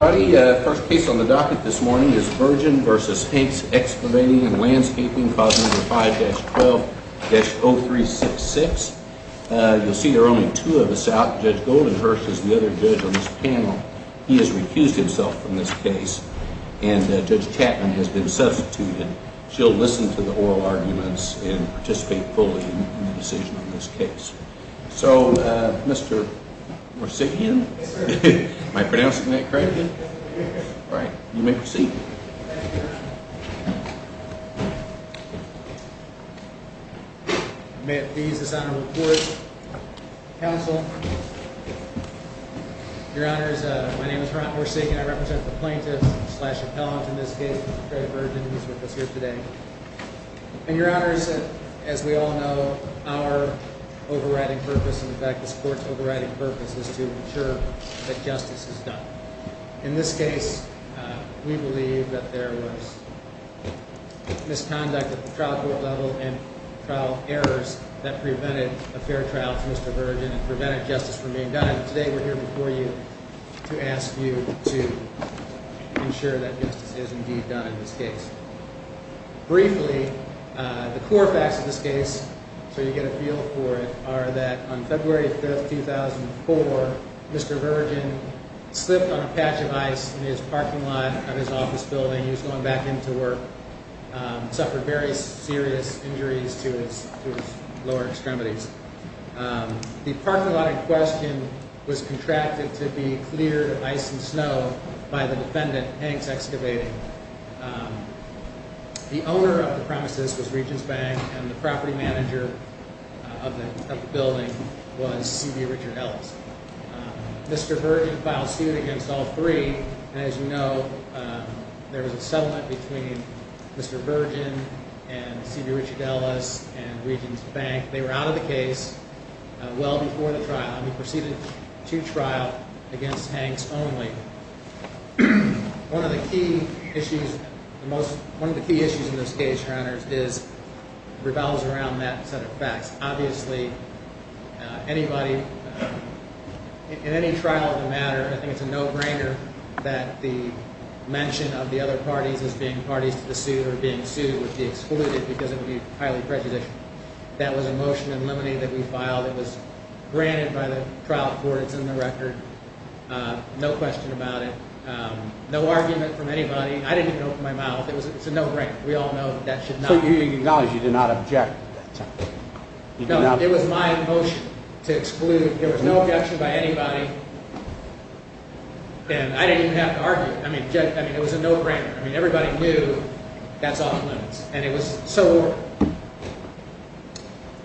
First case on the docket this morning is Virgin v. Hank's Excavating & Landscaping, 5-12-0366. You'll see there are only two of us out. Judge Goldenhurst is the other judge on this panel. He has recused himself from this case, and Judge Chapman has been substituted. She'll listen to the oral arguments and participate fully in the decision on this case. So, uh, Mr. Morsegan? Am I pronouncing that correctly? Alright, you may proceed. May it please this honor to report. Counsel. Your honors, my name is Ron Morsegan. I represent the plaintiffs slash appellants in this case. Mr. Craig Virgin is with us here today. And your honors, as we all know, our overriding purpose and in fact this court's overriding purpose is to ensure that justice is done. In this case, we believe that there was misconduct at the trial court level and trial errors that prevented a fair trial for Mr. Virgin and prevented justice from being done. And today we're here before you to ask you to ensure that justice is indeed done in this case. Briefly, the core facts of this case, so you get a feel for it, are that on February 3, 2004, Mr. Virgin slipped on a patch of ice in his parking lot of his office building. He was going back into work. Suffered very serious injuries to his lower extremities. The parking lot in question was contracted to be cleared of ice and snow by the defendant, Hanks Excavating. The owner of the premises was Regents Bank and the property manager of the building was C.B. Richard Ellis. Mr. Virgin filed suit against all three. And as you know, there was a settlement between Mr. Virgin and C.B. Richard Ellis and Regents Bank. They were out of the case well before the trial. He proceeded to trial against Hanks only. One of the key issues in this case, Your Honors, revolves around that set of facts. Obviously, anybody, in any trial of the matter, I think it's a no-brainer that the mention of the other parties as being parties to the suit or being sued would be excluded because it would be highly prejudicial. That was a motion in limine that we filed. It was granted by the trial court. It's in the record. No question about it. No argument from anybody. I didn't even open my mouth. It's a no-brainer. We all know that that should not be. So you acknowledge you did not object at that time? No, it was my motion to exclude. There was no objection by anybody, and I didn't even have to argue. I mean, it was a no-brainer. I mean, everybody knew that's off limits.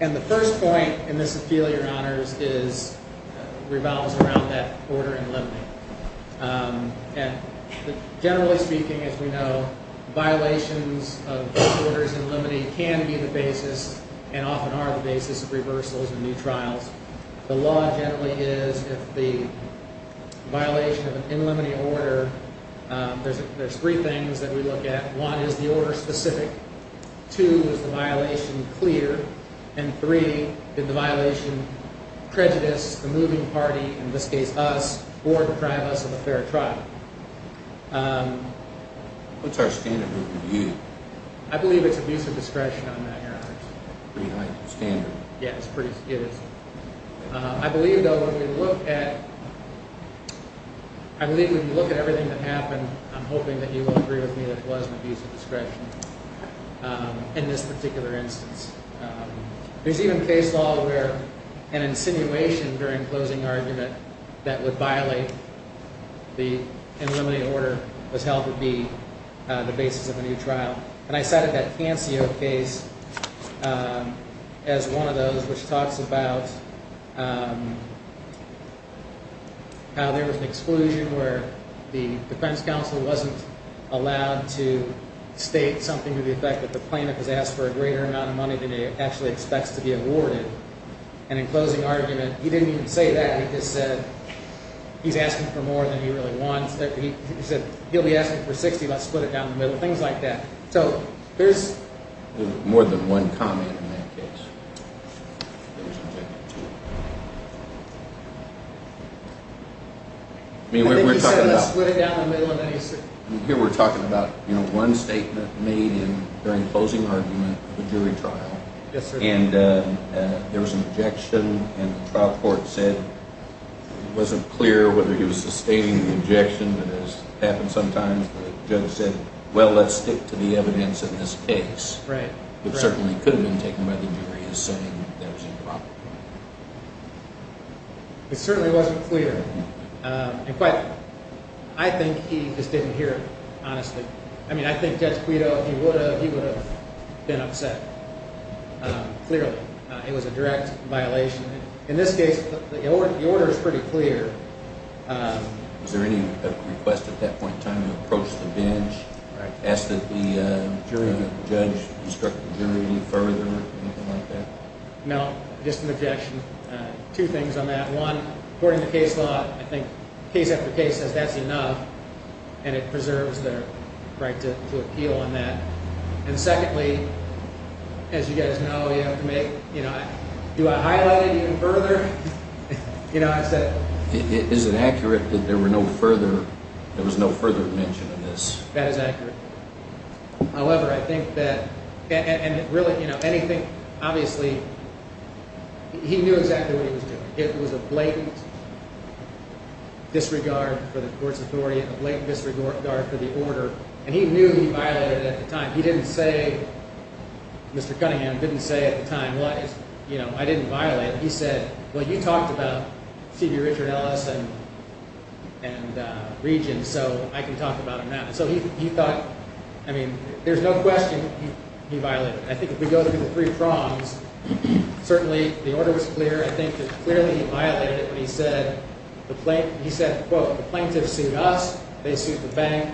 And the first point in this appeal, Your Honors, revolves around that order in limine. And generally speaking, as we know, violations of these orders in limine can be the basis and often are the basis of reversals in new trials. The law generally is if the violation of an in limine order, there's three things that we look at. One, is the order specific? Two, is the violation clear? And three, did the violation prejudice the moving party, in this case us, or deprive us of a fair trial? What's our standard review? I believe it's abuse of discretion on that, Your Honors. Pretty high standard. Yeah, it is. I believe, though, when we look at everything that happened, I'm hoping that you will agree with me that it was an abuse of discretion in this particular instance. There's even case law where an insinuation during closing argument that would violate the in limine order was held to be the basis of a new trial. And I cited that Cancio case as one of those which talks about how there was an exclusion where the defense counsel wasn't allowed to state something to the effect that the plaintiff was asked for a greater amount of money than he actually expects to be awarded. And in closing argument, he didn't even say that. He just said he's asking for more than he really wants. He said he'll be asking for 60. Let's split it down the middle, things like that. So there's more than one comment in that case. I think he said let's split it down the middle. Here we're talking about one statement made during closing argument of a jury trial. And there was an objection, and the trial court said it wasn't clear whether he was sustaining the objection. It has happened sometimes that a judge said, well, let's stick to the evidence in this case. It certainly could have been taken by the jury as saying there was a problem. It certainly wasn't clear. I think he just didn't hear it, honestly. I mean, I think Judge Guido, he would have been upset, clearly. It was a direct violation. In this case, the order is pretty clear. No, just an objection. Two things on that. One, according to case law, I think case after case says that's enough, and it preserves the right to appeal on that. And secondly, as you guys know, you have to make—do I highlight it even further? Is it accurate that there was no further mention of this? That is accurate. However, I think that—and really, anything—obviously, he knew exactly what he was doing. It was a blatant disregard for the court's authority, a blatant disregard for the order, and he knew he violated it at the time. He didn't say—Mr. Cunningham didn't say at the time, well, I didn't violate it. He said, well, you talked about C.B. Richard Ellis and Regence, so I can talk about him now. So he thought—I mean, there's no question he violated it. I think if we go through the three prongs, certainly the order was clear. I think that clearly he violated it when he said—he said, quote, the plaintiffs sued us. They sued the bank.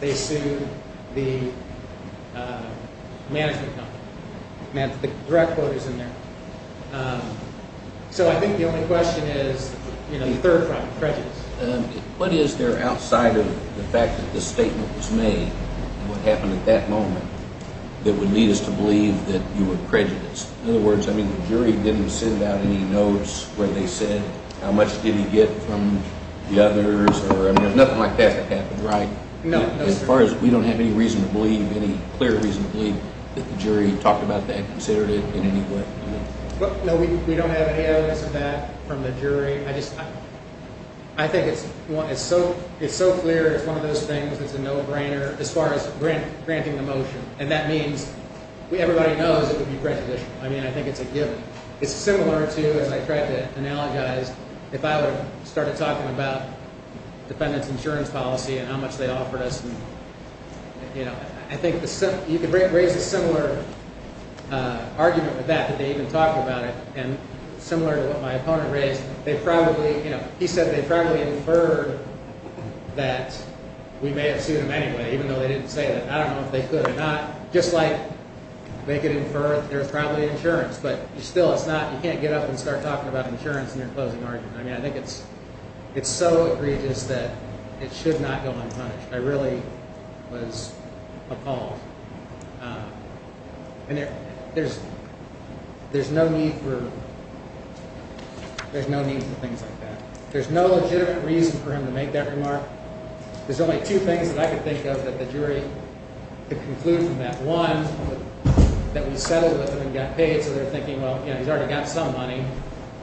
They sued the management company. The direct quote is in there. So I think the only question is the third prong, prejudice. What is there outside of the fact that this statement was made and what happened at that moment that would lead us to believe that you were prejudiced? In other words, I mean the jury didn't send out any notes where they said how much did he get from the others? I mean there's nothing like that that happened, right? As far as—we don't have any reason to believe, any clear reason to believe that the jury talked about that, considered it in any way? No, we don't have any evidence of that from the jury. I just—I think it's so clear. It's one of those things that's a no-brainer as far as granting the motion. And that means everybody knows it would be prejudicial. I mean I think it's a given. It's similar to, as I tried to analogize, if I would have started talking about defendant's insurance policy and how much they offered us. I think you could raise a similar argument with that, that they even talked about it. And similar to what my opponent raised, they probably—he said they probably inferred that we may have sued him anyway, even though they didn't say that. I don't know if they could or not. Just like they could infer there's probably insurance, but still it's not—you can't get up and start talking about insurance in your closing argument. I mean I think it's so egregious that it should not go unpunished. I really was appalled. And there's no need for—there's no need for things like that. There's no legitimate reason for him to make that remark. There's only two things that I could think of that the jury could conclude from that. One, that we settled with him and got paid, so they're thinking, well, he's already got some money.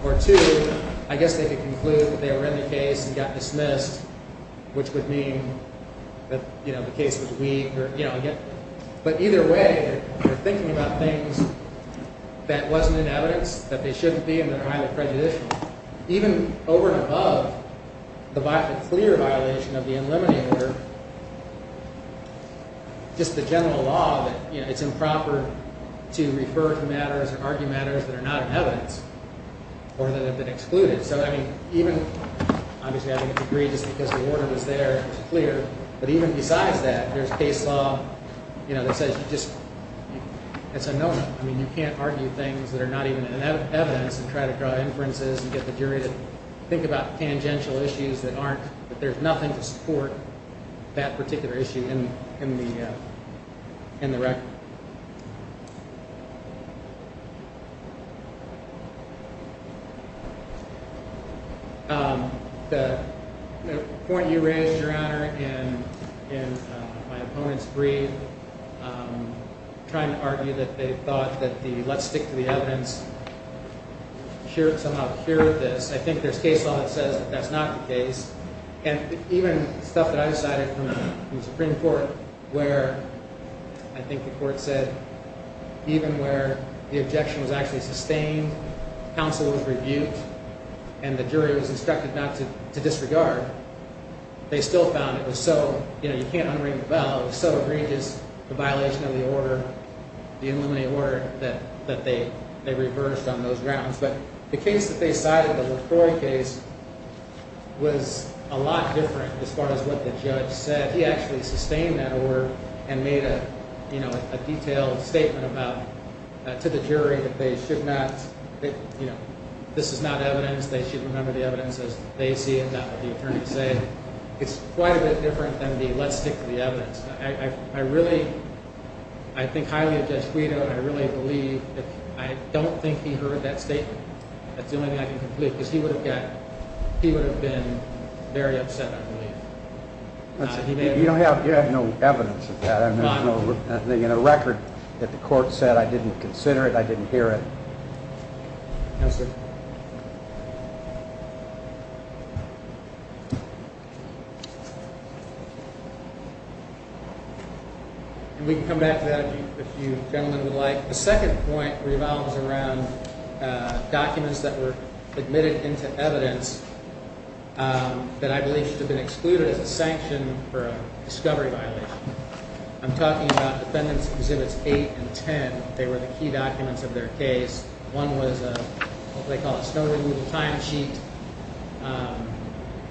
Or two, I guess they could conclude that they were in the case and got dismissed, which would mean that the case was weak. But either way, they're thinking about things that wasn't in evidence that they shouldn't be and that are highly prejudicial. Even over and above the clear violation of the Unlimited Order, just the general law that it's improper to refer to matters or argue matters that are not in evidence. Or that have been excluded. So I mean even—obviously I think it's egregious because the order was there and it was clear. But even besides that, there's case law that says you just—it's a no-no. I mean you can't argue things that are not even in evidence and try to draw inferences and get the jury to think about tangential issues that aren't— that there's nothing to support that particular issue in the record. The point you raised, Your Honor, and my opponents breathe, trying to argue that they thought that the let's stick to the evidence somehow cured this. I think there's case law that says that that's not the case. And even stuff that I decided from the Supreme Court where I think the court said even where the objection was actually sustained, counsel was rebuked, and the jury was instructed not to disregard, they still found it was so—you know, you can't unring the bell. It was so egregious, the violation of the order, the Unlimited Order, that they reversed on those grounds. But the case that they cited, the LaCroix case, was a lot different as far as what the judge said. He actually sustained that order and made a, you know, a detailed statement about—to the jury that they should not, you know, this is not evidence, they should remember the evidence as they see it, not what the attorney said. It's quite a bit different than the let's stick to the evidence. I really—I think highly of Judge Guido, and I really believe that—I don't think he heard that statement. That's the only thing I can conclude, because he would have got—he would have been very upset, I believe. He may have— You don't have—you have no evidence of that. I mean, there's no record that the court said I didn't consider it, I didn't hear it. No, sir. And we can come back to that if you gentlemen would like. The second point revolves around documents that were admitted into evidence that I believe should have been excluded as a sanction for a discovery violation. I'm talking about Defendants Exhibits 8 and 10. They were the key documents of their case. One was what they call a snow removal timesheet,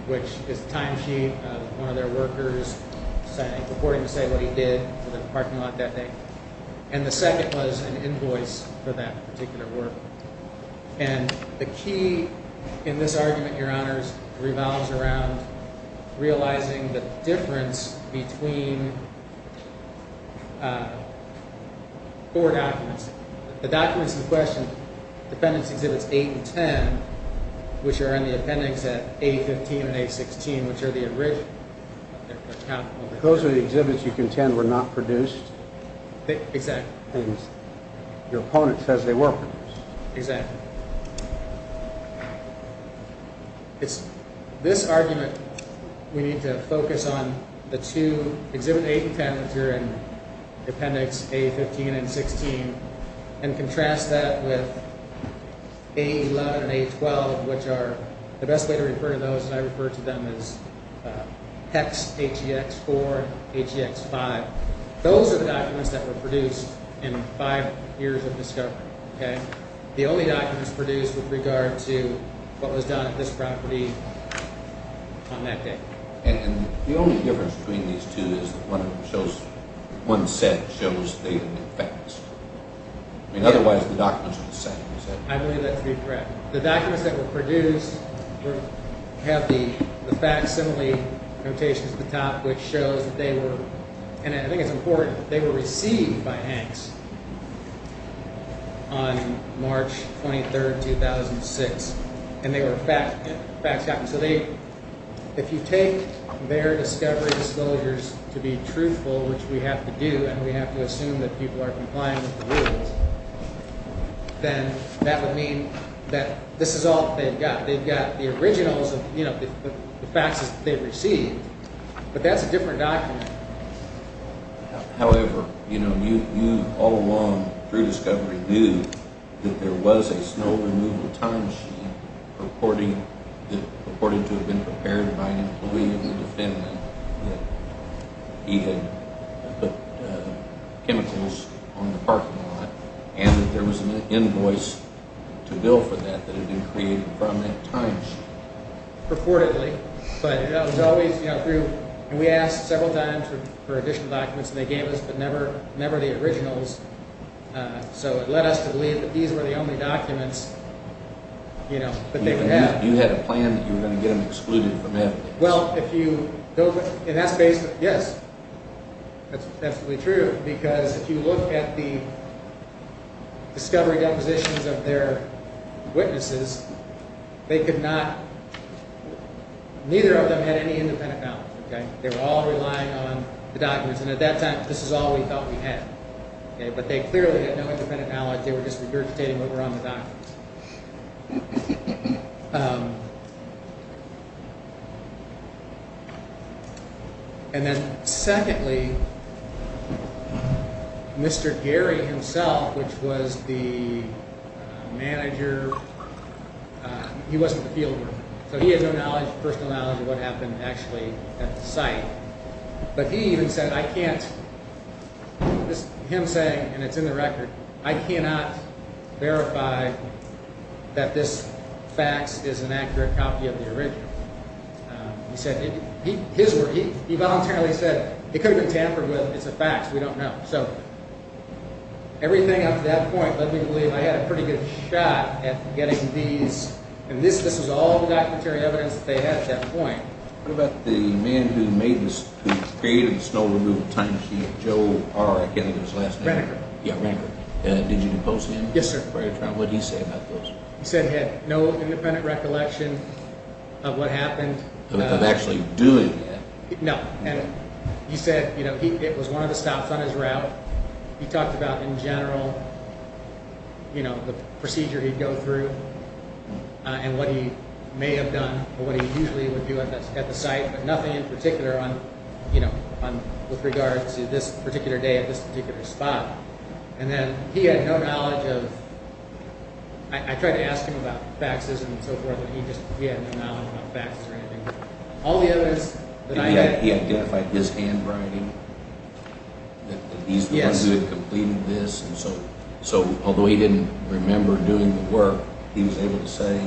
which is a timesheet of one of their workers saying—reporting to say what he did to the parking lot that day. And the second was an invoice for that particular work. And the key in this argument, Your Honors, revolves around realizing the difference between four documents. The documents in question, Defendants Exhibits 8 and 10, which are in the appendix at A15 and A16, which are the original— Those are the exhibits you contend were not produced? Exactly. And your opponent says they were produced. Exactly. This argument, we need to focus on the two—Exhibits 8 and 10, which are in Appendix A15 and A16, and contrast that with A11 and A12, which are— The best way to refer to those, and I refer to them as HEX HEX 4 and HEX 5. Those are the documents that were produced in five years of discovery. The only documents produced with regard to what was done at this property on that day. And the only difference between these two is that one set shows they have been faxed. Otherwise, the documents are the same. I believe that to be correct. The documents that were produced have the facsimile notations at the top, which shows that they were—and I think it's important—they were received by HEX. On March 23, 2006. And they were faxed. If you take their discovery disclosures to be truthful, which we have to do, and we have to assume that people are compliant with the rules, then that would mean that this is all that they've got. They've got the originals of the faxes that they've received, but that's a different document. However, you all along through discovery knew that there was a snow removal timesheet purported to have been prepared by an employee of the defendant that he had put chemicals on the parking lot. And that there was an invoice to bill for that that had been created from that timesheet. Purportedly. And we asked several times for additional documents, and they gave us, but never the originals. So it led us to believe that these were the only documents that they would have. You had a plan that you were going to get them excluded from that. Well, if you—and that's basically—yes, that's absolutely true. Because if you look at the discovery depositions of their witnesses, they could not—neither of them had any independent knowledge. They were all relying on the documents. And at that time, this is all we thought we had. But they clearly had no independent knowledge. And then secondly, Mr. Gary himself, which was the manager, he wasn't a fielder. So he had no knowledge, personal knowledge, of what happened actually at the site. But he even said, I can't—him saying, and it's in the record, I cannot verify that this fax is an accurate copy of the original. He said—his word—he voluntarily said, it could have been tampered with. It's a fax. We don't know. So everything up to that point led me to believe I had a pretty good shot at getting these. And this was all the documentary evidence that they had at that point. What about the man who made this—who created the snow removal time sheet, Joe R., I can't remember his last name. Renicker. Yeah, Renicker. Did you depose him? Yes, sir. What did he say about those? He said he had no independent recollection of what happened. Of actually doing that. No. And he said, you know, it was one of the stops on his route. He talked about, in general, you know, the procedure he'd go through and what he may have done or what he usually would do at the site. But nothing in particular on, you know, with regard to this particular day at this particular spot. And then he had no knowledge of—I tried to ask him about faxes and so forth, but he had no knowledge about faxes or anything. All the evidence that I had— Did he identify his handwriting? That he's the one who had completed this? Yes. So although he didn't remember doing the work, he was able to say,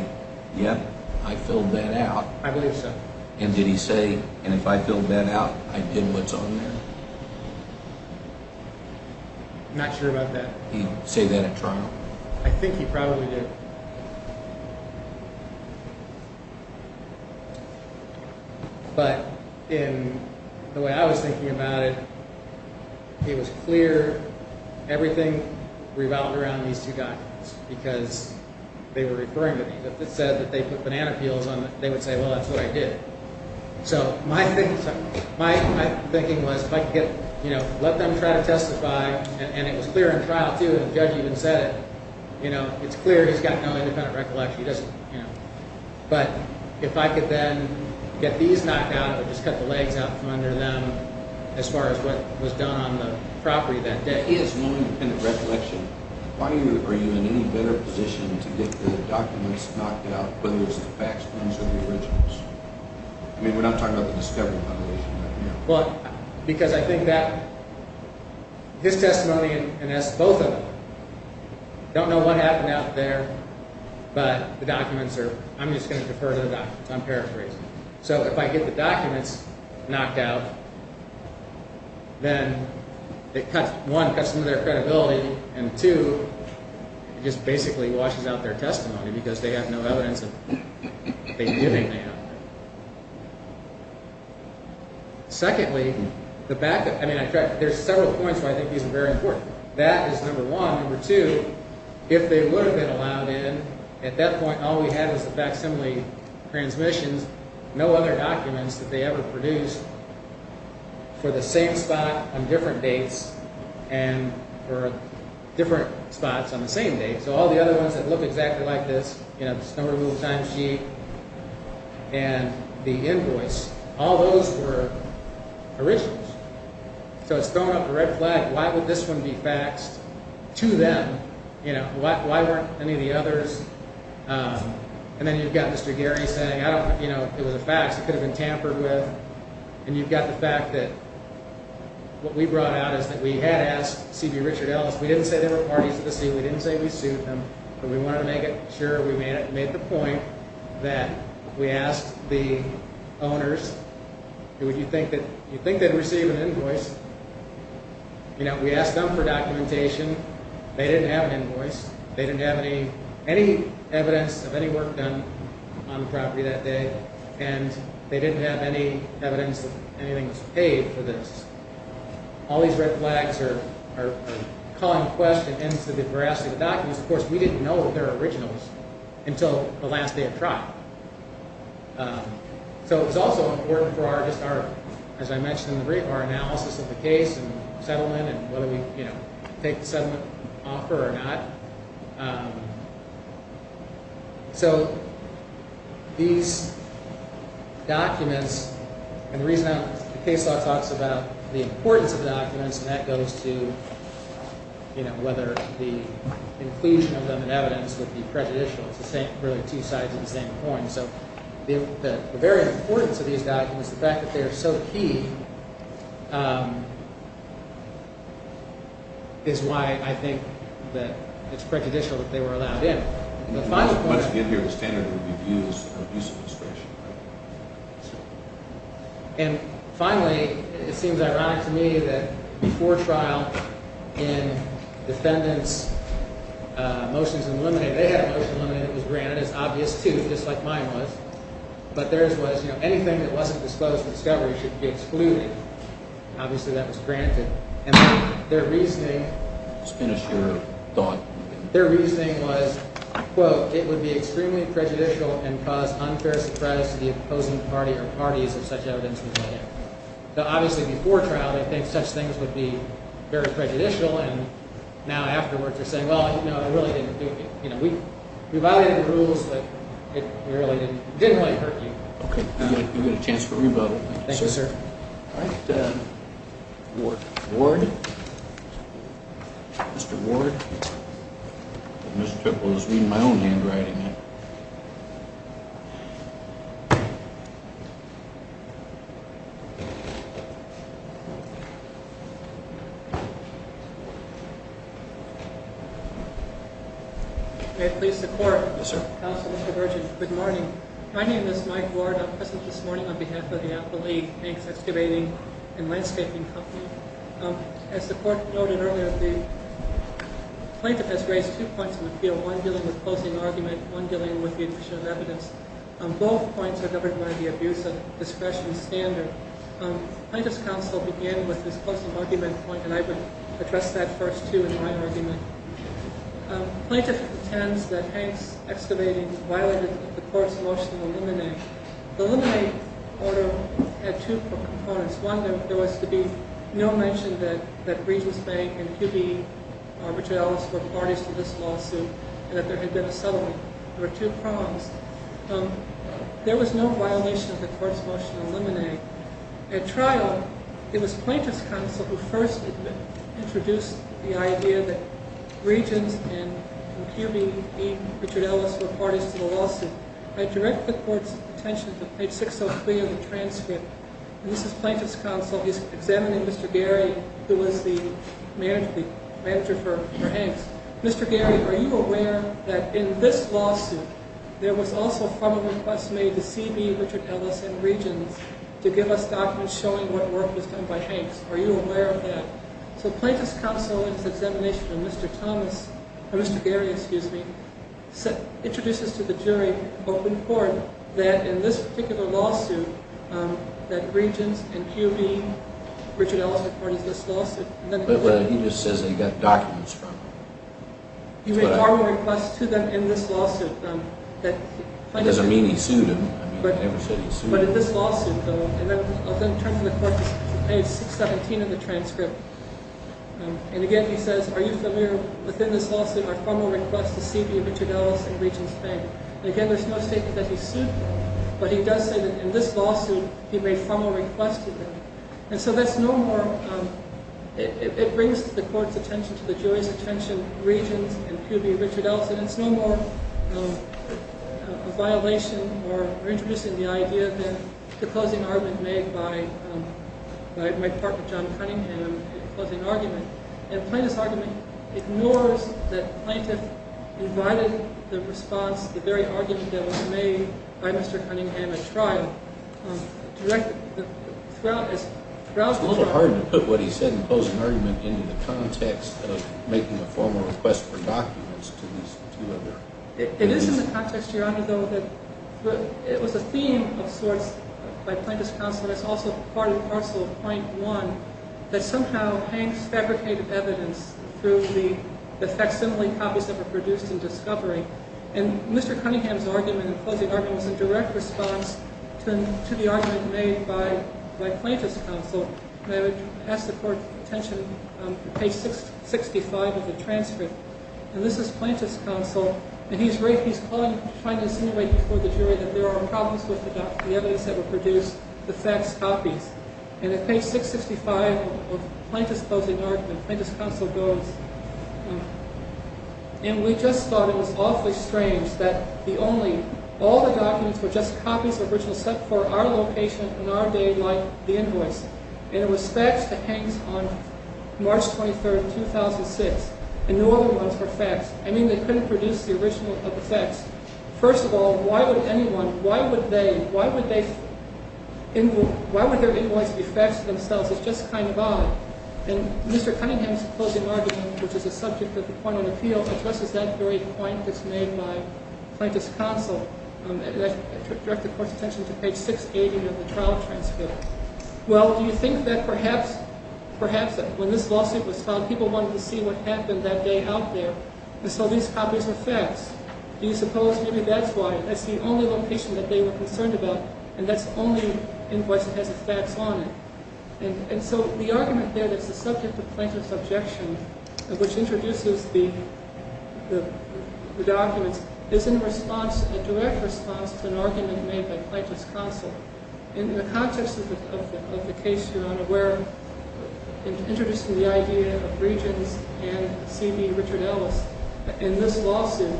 yep, I filled that out. I believe so. And did he say, and if I filled that out, I did what's on there? I'm not sure about that. He didn't say that at trial? I think he probably did. But in the way I was thinking about it, it was clear everything revolved around these two guys. Because they were referring to me. If it said that they put banana peels on it, they would say, well, that's what I did. So my thinking was if I could let them try to testify, and it was clear in trial, too, and the judge even said it, it's clear he's got no independent recollection. But if I could then get these knocked out, it would just cut the legs out from under them as far as what was done on the property that day. He has no independent recollection. Why are you in any better position to get the documents knocked out, whether it's the facts, claims, or the originals? I mean, we're not talking about the discovery foundation right now. Well, because I think that his testimony and both of them don't know what happened out there. But the documents are, I'm just going to defer to the documents. I'm paraphrasing. So if I get the documents knocked out, then it cuts, one, cuts some of their credibility, and two, it just basically washes out their testimony because they have no evidence that they did anything out there. Secondly, the backup, I mean, there's several points where I think these are very important. That is number one. If they would have been allowed in, at that point all we had was the facsimile transmissions, no other documents that they ever produced for the same spot on different dates and for different spots on the same date. So all the other ones that look exactly like this, you know, the snow removal timesheet and the invoice, all those were originals. So it's throwing up a red flag. Why would this one be faxed to them? You know, why weren't any of the others? And then you've got Mr. Gary saying, you know, it was a fax. It could have been tampered with. And you've got the fact that what we brought out is that we had asked C.B. Richard Ellis. We didn't say there were parties at the scene. We didn't say we sued them. But we wanted to make sure we made the point that we asked the owners, if you think they'd receive an invoice, you know, we asked them for documentation. They didn't have an invoice. They didn't have any evidence of any work done on the property that day. And they didn't have any evidence that anything was paid for this. All these red flags are calling a question as to the veracity of the documents. Of course, we didn't know that they were originals until the last day of trial. So it was also important for our, just our, as I mentioned in the brief, our analysis of the case and settlement and whether we, you know, take the settlement offer or not. So these documents, and the reason the case law talks about the importance of documents, and that goes to, you know, whether the inclusion of them in evidence would be prejudicial. It's the same, really two sides of the same coin. So the very importance of these documents, the fact that they are so key, is why I think that it's prejudicial that they were allowed in. The final point. Once again, here, the standard would be abuse of discretion. And finally, it seems ironic to me that before trial, in defendants' motions eliminated, they had a motion eliminated that was granted. It's obvious, too, just like mine was. But theirs was, you know, anything that wasn't disclosed for discovery should be excluded. Obviously, that was granted. And their reasoning… Just finish your thought. Their reasoning was, quote, it would be extremely prejudicial and cause unfair surprise to the opposing party or parties if such evidence was given. So obviously, before trial, they think such things would be very prejudicial. And now, afterwards, they're saying, well, you know, it really didn't do it. You know, we violated the rules, but it really didn't hurt you. Okay. You get a chance to rebuttal. Thank you, sir. All right. Ward. Ward? Mr. Ward? I was reading my own handwriting. May it please the Court? Yes, sir. Counsel, Mr. Virgin. Good morning. My name is Mike Ward. I'm present this morning on behalf of the Apple Leaf Banks Excavating and Landscaping Company. As the Court noted earlier, the plaintiff has raised two points of appeal, one dealing with closing argument, one dealing with the addition of evidence. Both points are governed by the abuse of discretion standard. Plaintiff's counsel began with this closing argument point, and I would address that first, too, in my argument. Plaintiff intends that Hanks Excavating violated the Court's motion to eliminate. The eliminate order had two components. One, there was to be no mention that Regents Bank and QB Richard Ellis were parties to this lawsuit and that there had been a settlement. There were two prongs. At trial, it was plaintiff's counsel who first introduced the idea that Regents and QB Richard Ellis were parties to the lawsuit. I direct the Court's attention to page 603 of the transcript. This is plaintiff's counsel examining Mr. Gary, who was the manager for Hanks. Mr. Gary, are you aware that in this lawsuit, there was also formal request made to CB Richard Ellis and Regents to give us documents showing what work was done by Hanks? Are you aware of that? So plaintiff's counsel in its examination of Mr. Thomas, or Mr. Gary, excuse me, introduces to the jury open court that in this particular lawsuit, that Regents and QB Richard Ellis were parties to this lawsuit. But he just says that he got documents from them. He made formal requests to them in this lawsuit. That doesn't mean he sued them. But in this lawsuit, though, and I'll then turn to the Court's page 617 of the transcript. And again, he says, are you familiar, within this lawsuit, are formal requests to CB Richard Ellis and Regents Bank. And again, there's no statement that he sued them, but he does say that in this lawsuit, he made formal requests to them. And so that's no more, it brings the Court's attention to the jury's attention, Regents and QB Richard Ellis. And it's no more a violation or introducing the idea than the closing argument made by my partner, John Cunningham, closing argument. And plaintiff's argument ignores that plaintiff invited the response, the very argument that was made by Mr. Cunningham at trial, It's a little hard to put what he said in the closing argument into the context of making a formal request for documents to these two of them. It is in the context, Your Honor, though, that it was a theme of sorts by plaintiff's counsel, but it's also part and parcel of point one, that somehow hangs fabricated evidence through the facsimile copies that were produced in discovery. And Mr. Cunningham's argument, the closing argument, was a direct response to the argument made by plaintiff's counsel. And I would ask the Court's attention on page 665 of the transcript. And this is plaintiff's counsel, and he's trying to insinuate before the jury that there are problems with the evidence that were produced, the fax copies. And at page 665 of plaintiff's closing argument, plaintiff's counsel goes, And we just thought it was awfully strange that all the documents were just copies of original set for our location in our day, like the invoice. And it was faxed to Hanks on March 23, 2006, and no other ones were faxed. I mean, they couldn't produce the original of the fax. First of all, why would anyone, why would their invoice be faxed to themselves? It's just kind of odd. And Mr. Cunningham's closing argument, which is the subject of the point of appeal, addresses that very point that's made by plaintiff's counsel. And I direct the Court's attention to page 680 of the trial transcript. Well, do you think that perhaps when this lawsuit was filed, people wanted to see what happened that day out there? And so these copies were faxed. Do you suppose maybe that's why? That's the only location that they were concerned about, and that's the only invoice that has a fax on it. And so the argument there that's the subject of plaintiff's objection, which introduces the documents, is in response, a direct response to an argument made by plaintiff's counsel. In the context of the case you're unaware of, introducing the idea of Regents and C.B. Richard Ellis, in this lawsuit,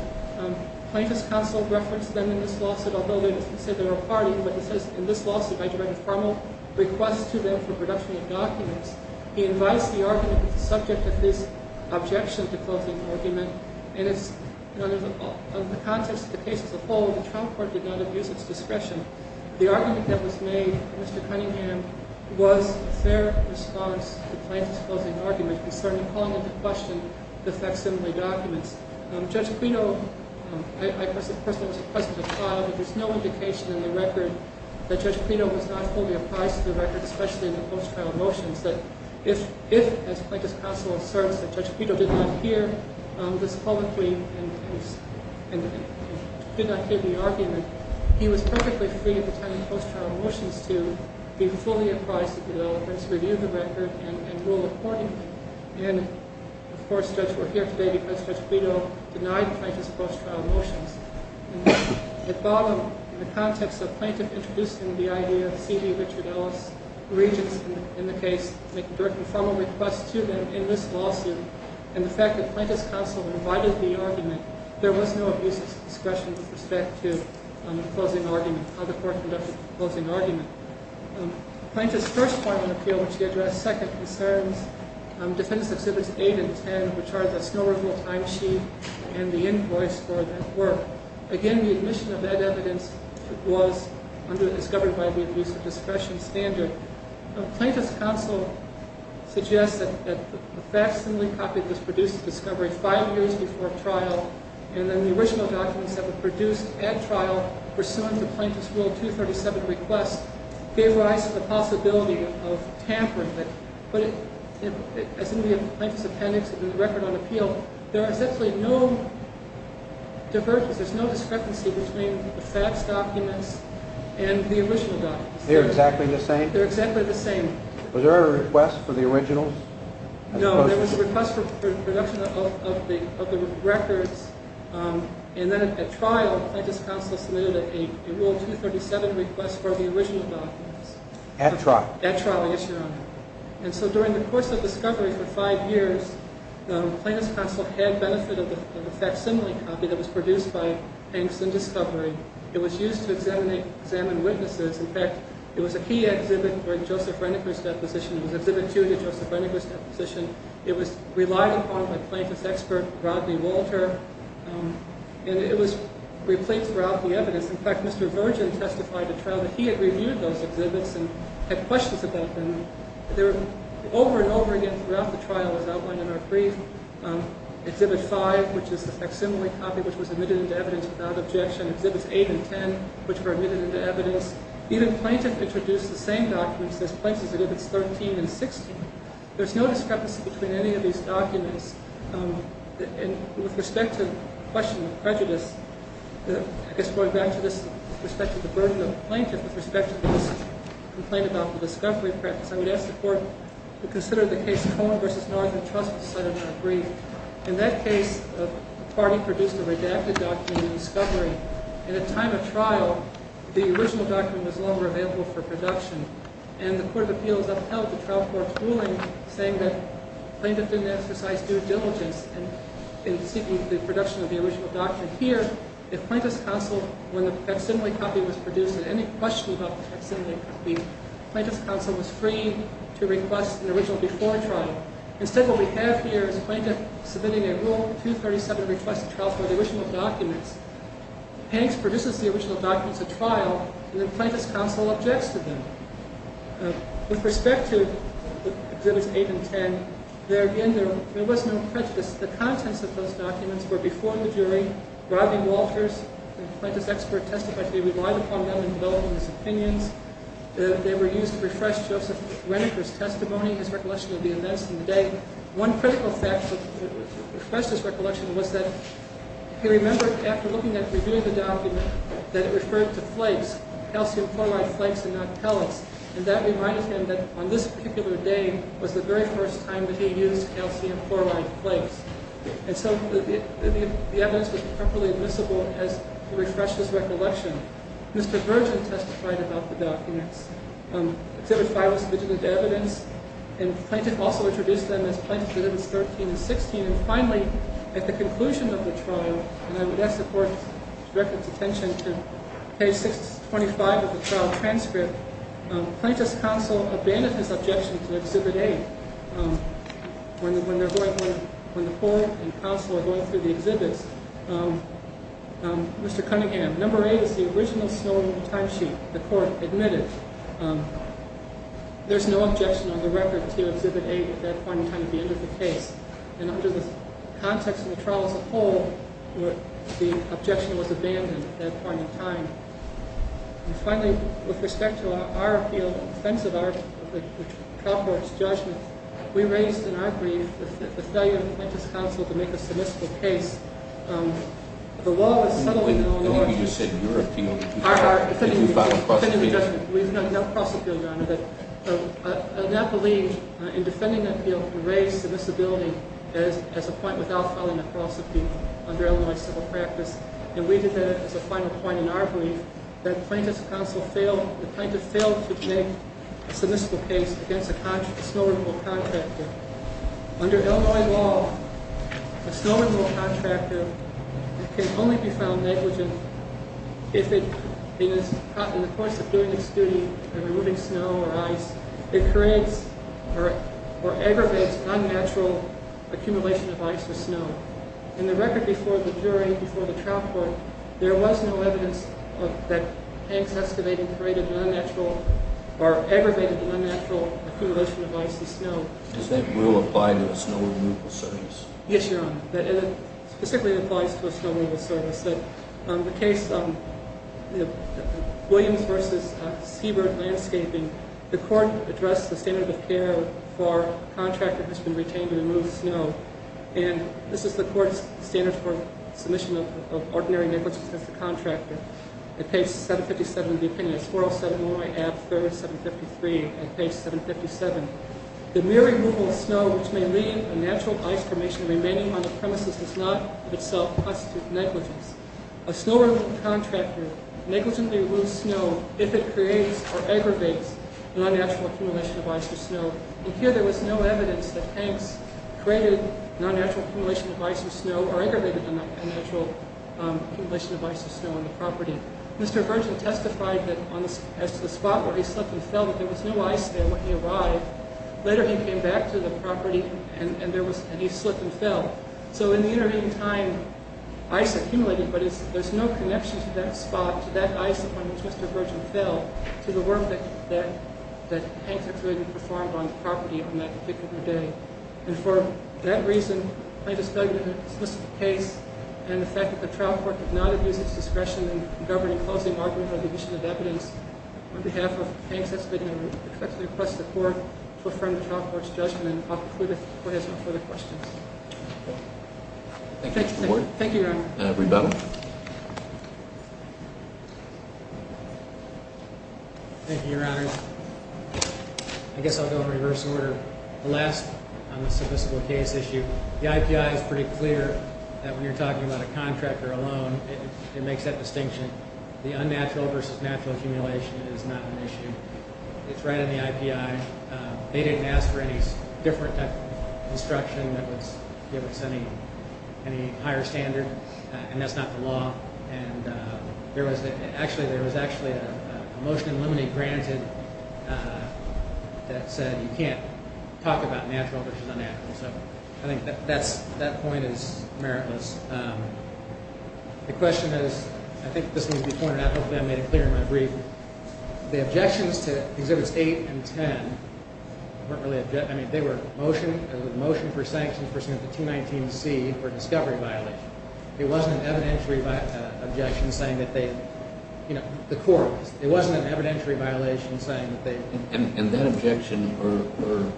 plaintiff's counsel referenced them in this lawsuit, although they didn't say they were a party. But it says, in this lawsuit, I direct a formal request to them for production of documents. He invites the argument that's the subject of this objection to closing argument. And in the context of the case as a whole, the trial court did not abuse its discretion. The argument that was made by Mr. Cunningham was their response to plaintiff's closing argument concerning calling into question the facsimile documents. Judge Clito, I personally was present at the trial, but there's no indication in the record that Judge Clito was not fully apprised of the record, especially in the post-trial motions, that if, as plaintiff's counsel asserts, that Judge Clito did not hear this publicly and did not hear the argument, he was perfectly free at the time in the post-trial motions to be fully apprised of the evidence, review the record, and rule accordingly. And, of course, Judge, we're here today because Judge Clito denied plaintiff's post-trial motions. At bottom, in the context of plaintiff introducing the idea, C.D. Richard Ellis, regents in the case, make a direct and formal request to them in this lawsuit. And the fact that plaintiff's counsel invited the argument, there was no abuse of discretion with respect to closing argument, how the court conducted the closing argument. Plaintiff's first point of appeal, which he addressed second, concerns Defendants Exhibits 8 and 10, which are the snow removal timesheet and the invoice for that work. Again, the admission of that evidence was discovered by the abuse of discretion standard. Plaintiff's counsel suggests that the facsimile copy was produced at discovery five years before trial, and then the original documents that were produced at trial, pursuant to Plaintiff's Rule 237 request, gave rise to the possibility of tampering. But as in the plaintiff's appendix and in the record on appeal, there is essentially no divergence, there's no discrepancy between the facts documents and the original documents. They're exactly the same? They're exactly the same. Was there a request for the originals? No, there was a request for production of the records, and then at trial, Plaintiff's counsel submitted a Rule 237 request for the original documents. At trial? At trial, yes, Your Honor. And so during the course of discovery for five years, the plaintiff's counsel had benefit of the facsimile copy that was produced by Hanks and Discovery. It was used to examine witnesses. In fact, it was a key exhibit for Joseph Reniger's deposition. It was Exhibit 2 to Joseph Reniger's deposition. It was relied upon by plaintiff's expert, Rodney Walter, and it was replete throughout the evidence. In fact, Mr. Virgin testified at trial that he had reviewed those exhibits and had questions about them. They were over and over again throughout the trial, as outlined in our brief. Exhibit 5, which is the facsimile copy, which was admitted into evidence without objection. Exhibits 8 and 10, which were admitted into evidence. Even Plaintiff introduced the same documents as Plaintiff's Exhibits 13 and 16. There's no discrepancy between any of these documents. And with respect to the question of prejudice, I guess going back to this, with respect to the burden of the plaintiff, with respect to this complaint about the discovery practice, I would ask the Court to consider the case Cohen v. Northern Trust, as cited in our brief. In that case, the party produced a redacted document in discovery. At the time of trial, the original document was no longer available for production. And the Court of Appeals upheld the trial court's ruling, saying that Plaintiff didn't exercise due diligence in seeking the production of the original document. Here, if Plaintiff's counsel, when the facsimile copy was produced, had any question about the facsimile copy, Plaintiff's counsel was free to request an original before trial. Instead, what we have here is Plaintiff submitting a Rule 237 request to trial for the original documents. Hanks produces the original documents at trial, and then Plaintiff's counsel objects to them. With respect to Exhibits 8 and 10, there, again, there was no prejudice. The contents of those documents were before the jury. Rodney Walters, the plaintiff's expert, testified that he relied upon them in developing his opinions. They were used to refresh Joseph Reniker's testimony, his recollection of the events in the day. One critical fact that refreshed his recollection was that he remembered, after looking at and reviewing the document, that it referred to flakes, calcium chloride flakes and not pellets. And that reminded him that on this particular day was the very first time that he used calcium chloride flakes. And so the evidence was properly admissible as he refreshed his recollection. Mr. Virgin testified about the documents. Exhibit 5 was legitimate evidence. And Plaintiff also introduced them as Plaintiff's Edicts 13 and 16. And finally, at the conclusion of the trial, and I would ask the court director's attention to page 625 of the trial transcript, Plaintiff's counsel abandoned his objection to Exhibit 8 when the court and counsel are going through the exhibits. Mr. Cunningham, number 8 is the original Snowden timesheet the court admitted. There's no objection on the record to Exhibit 8 at that point in time at the end of the case. And under the context of the trial as a whole, the objection was abandoned at that point in time. And finally, with respect to our appeal, the offense of our trial court's judgment, we raised in our brief the failure of Plaintiff's counsel to make a submissive case. The law was settled in Illinois. When you said your appeal, did you file a cross appeal? We did not file a cross appeal, Your Honor. I do not believe in defending an appeal to raise submissibility as a point without filing a cross appeal under Illinois civil practice. And we did that as a final point in our brief that Plaintiff's counsel failed, that Plaintiff failed to make a submissive case against a snow removal contractor. Under Illinois law, a snow removal contractor can only be found negligent if in the course of doing its duty and removing snow or ice, it creates or aggravates unnatural accumulation of ice or snow. In the record before the jury, before the trial court, there was no evidence of that exacerbating or creating an unnatural or aggravating an unnatural accumulation of ice or snow. Does that rule apply to a snow removal service? Yes, Your Honor. It specifically applies to a snow removal service. In the case of Williams v. Seabird Landscaping, the court addressed the standard of care for a contractor who has been retained to remove snow. And this is the court's standard for submission of ordinary negligence against a contractor. At page 757 of the opinion. It's 407 Illinois Ab. 3rd, 753 at page 757. The mere removal of snow which may leave a natural ice formation remaining on the premises does not in itself constitute negligence. A snow removal contractor negligently removes snow if it creates or aggravates an unnatural accumulation of ice or snow. And here there was no evidence that Hanks created an unnatural accumulation of ice or snow or aggravated an unnatural accumulation of ice or snow on the property. Mr. Virgin testified that as to the spot where he slipped and fell that there was no ice there when he arrived. Later he came back to the property and he slipped and fell. So in the intervening time, ice accumulated, but there's no connection to that spot, to that ice on which Mr. Virgin fell, to the work that Hanks actually performed on the property on that particular day. And for that reason, I just don't know the specific case and the fact that the trial court did not abuse its discretion in governing closing arguments or division of evidence. On behalf of Hanks, I respectfully request the court to affirm the trial court's judgment. And I'll conclude if the court has no further questions. Thank you, Your Honor. Rebuttal. Thank you, Your Honor. I guess I'll go in reverse order. The last on the submissible case issue, the IPI is pretty clear that when you're talking about a contractor alone, it makes that distinction. The unnatural versus natural accumulation is not an issue. It's right in the IPI. They didn't ask for any different type of construction that was given to any higher standard, and that's not the law. And there was actually a motion in Lumine granted that said you can't talk about natural versus unnatural. So I think that point is meritless. The question is, I think this needs to be pointed out. Hopefully I made it clear in my brief. The objections to Exhibits 8 and 10 weren't really objections. I mean, they were motion for sanctions pursuant to 219C for discovery violation. It wasn't an evidentiary objection saying that they, you know, the court was. It wasn't an evidentiary violation saying that they. And that objection or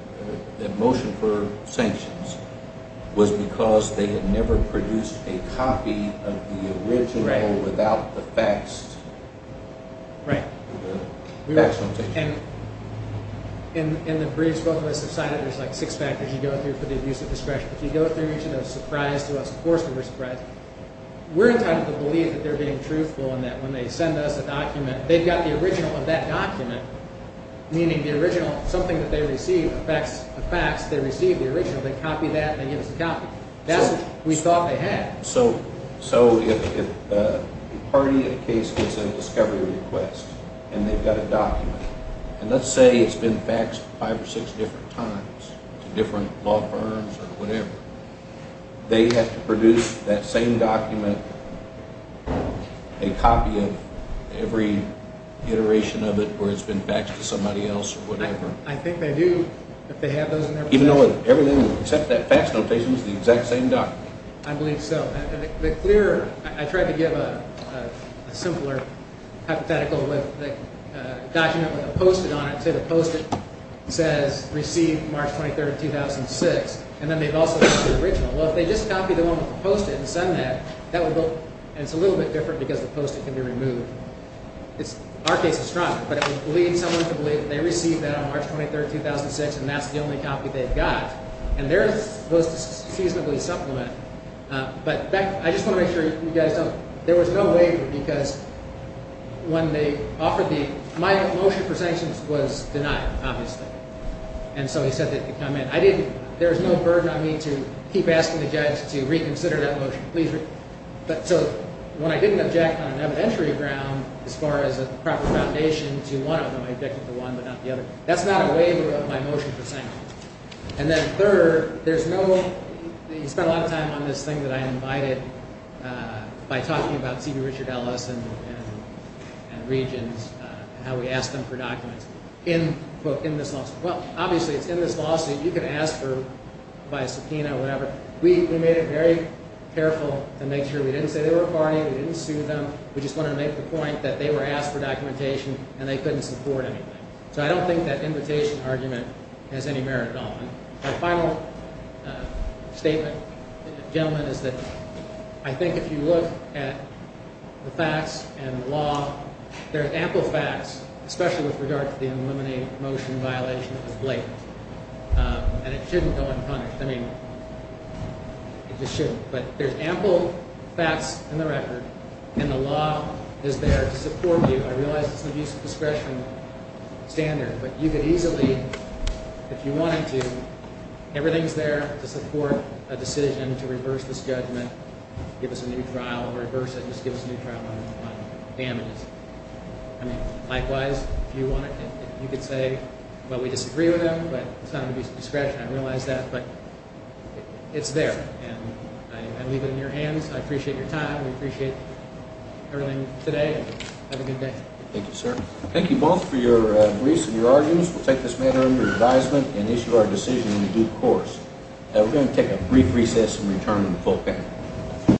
that motion for sanctions was because they had never produced a copy of the original without the facts. Right. And in the briefs both of us have cited, there's like six factors you go through for the abuse of discretion. If you go through each of those, surprise to us, of course we were surprised. We're entitled to believe that they're being truthful and that when they send us a document, they've got the original of that document, meaning the original, something that they receive, the facts, they receive the original. They copy that and they give us a copy. That's what we thought they had. So if a party in a case gets a discovery request and they've got a document, and let's say it's been faxed five or six different times to different law firms or whatever, they have to produce that same document, a copy of every iteration of it where it's been faxed to somebody else or whatever? I think they do if they have those in their possession. Even though everything except that fax notation is the exact same document? I believe so. I tried to give a simpler hypothetical with a document with a post-it on it. Say the post-it says, receive March 23, 2006, and then they've also got the original. Well, if they just copy the one with the post-it and send that, that would look, and it's a little bit different because the post-it can be removed. Our case is strong, but it would lead someone to believe they received that on March 23, 2006, and that's the only copy they've got. And they're supposed to seasonably supplement. But I just want to make sure you guys know, there was no waiver because when they offered the – my motion for sanctions was denied, obviously, and so he said they could come in. I didn't – there was no burden on me to keep asking the judge to reconsider that motion. So when I didn't object on an evidentiary ground as far as a proper foundation to one of them, I objected to one but not the other. That's not a waiver of my motion for sanctions. And then third, there's no – you spent a lot of time on this thing that I invited by talking about C.B. Richard Ellis and Regions and how we asked them for documents in this lawsuit. Well, obviously, it's in this lawsuit. You can ask for – by a subpoena or whatever. We made it very careful to make sure we didn't say they were a party, we didn't sue them. We just wanted to make the point that they were asked for documentation and they couldn't support anything. So I don't think that invitation argument has any merit at all. And my final statement, gentlemen, is that I think if you look at the facts and the law, there's ample facts, especially with regard to the uneliminated motion violation of the blatant, and it shouldn't go unpunished. I mean, it just shouldn't. But there's ample facts in the record, and the law is there to support you. I realize it's an abuse of discretion standard, but you could easily, if you wanted to, everything's there to support a decision to reverse this judgment, give us a new trial, or reverse it and just give us a new trial on damages. I mean, likewise, if you wanted, you could say, well, we disagree with them, but it's not an abuse of discretion. I realize that, but it's there. And I leave it in your hands. I appreciate your time. We appreciate everything today. Have a good day. Thank you, sir. Thank you both for your briefs and your arguments. We'll take this matter under advisement and issue our decision in due course. We're going to take a brief recess and return to the full panel.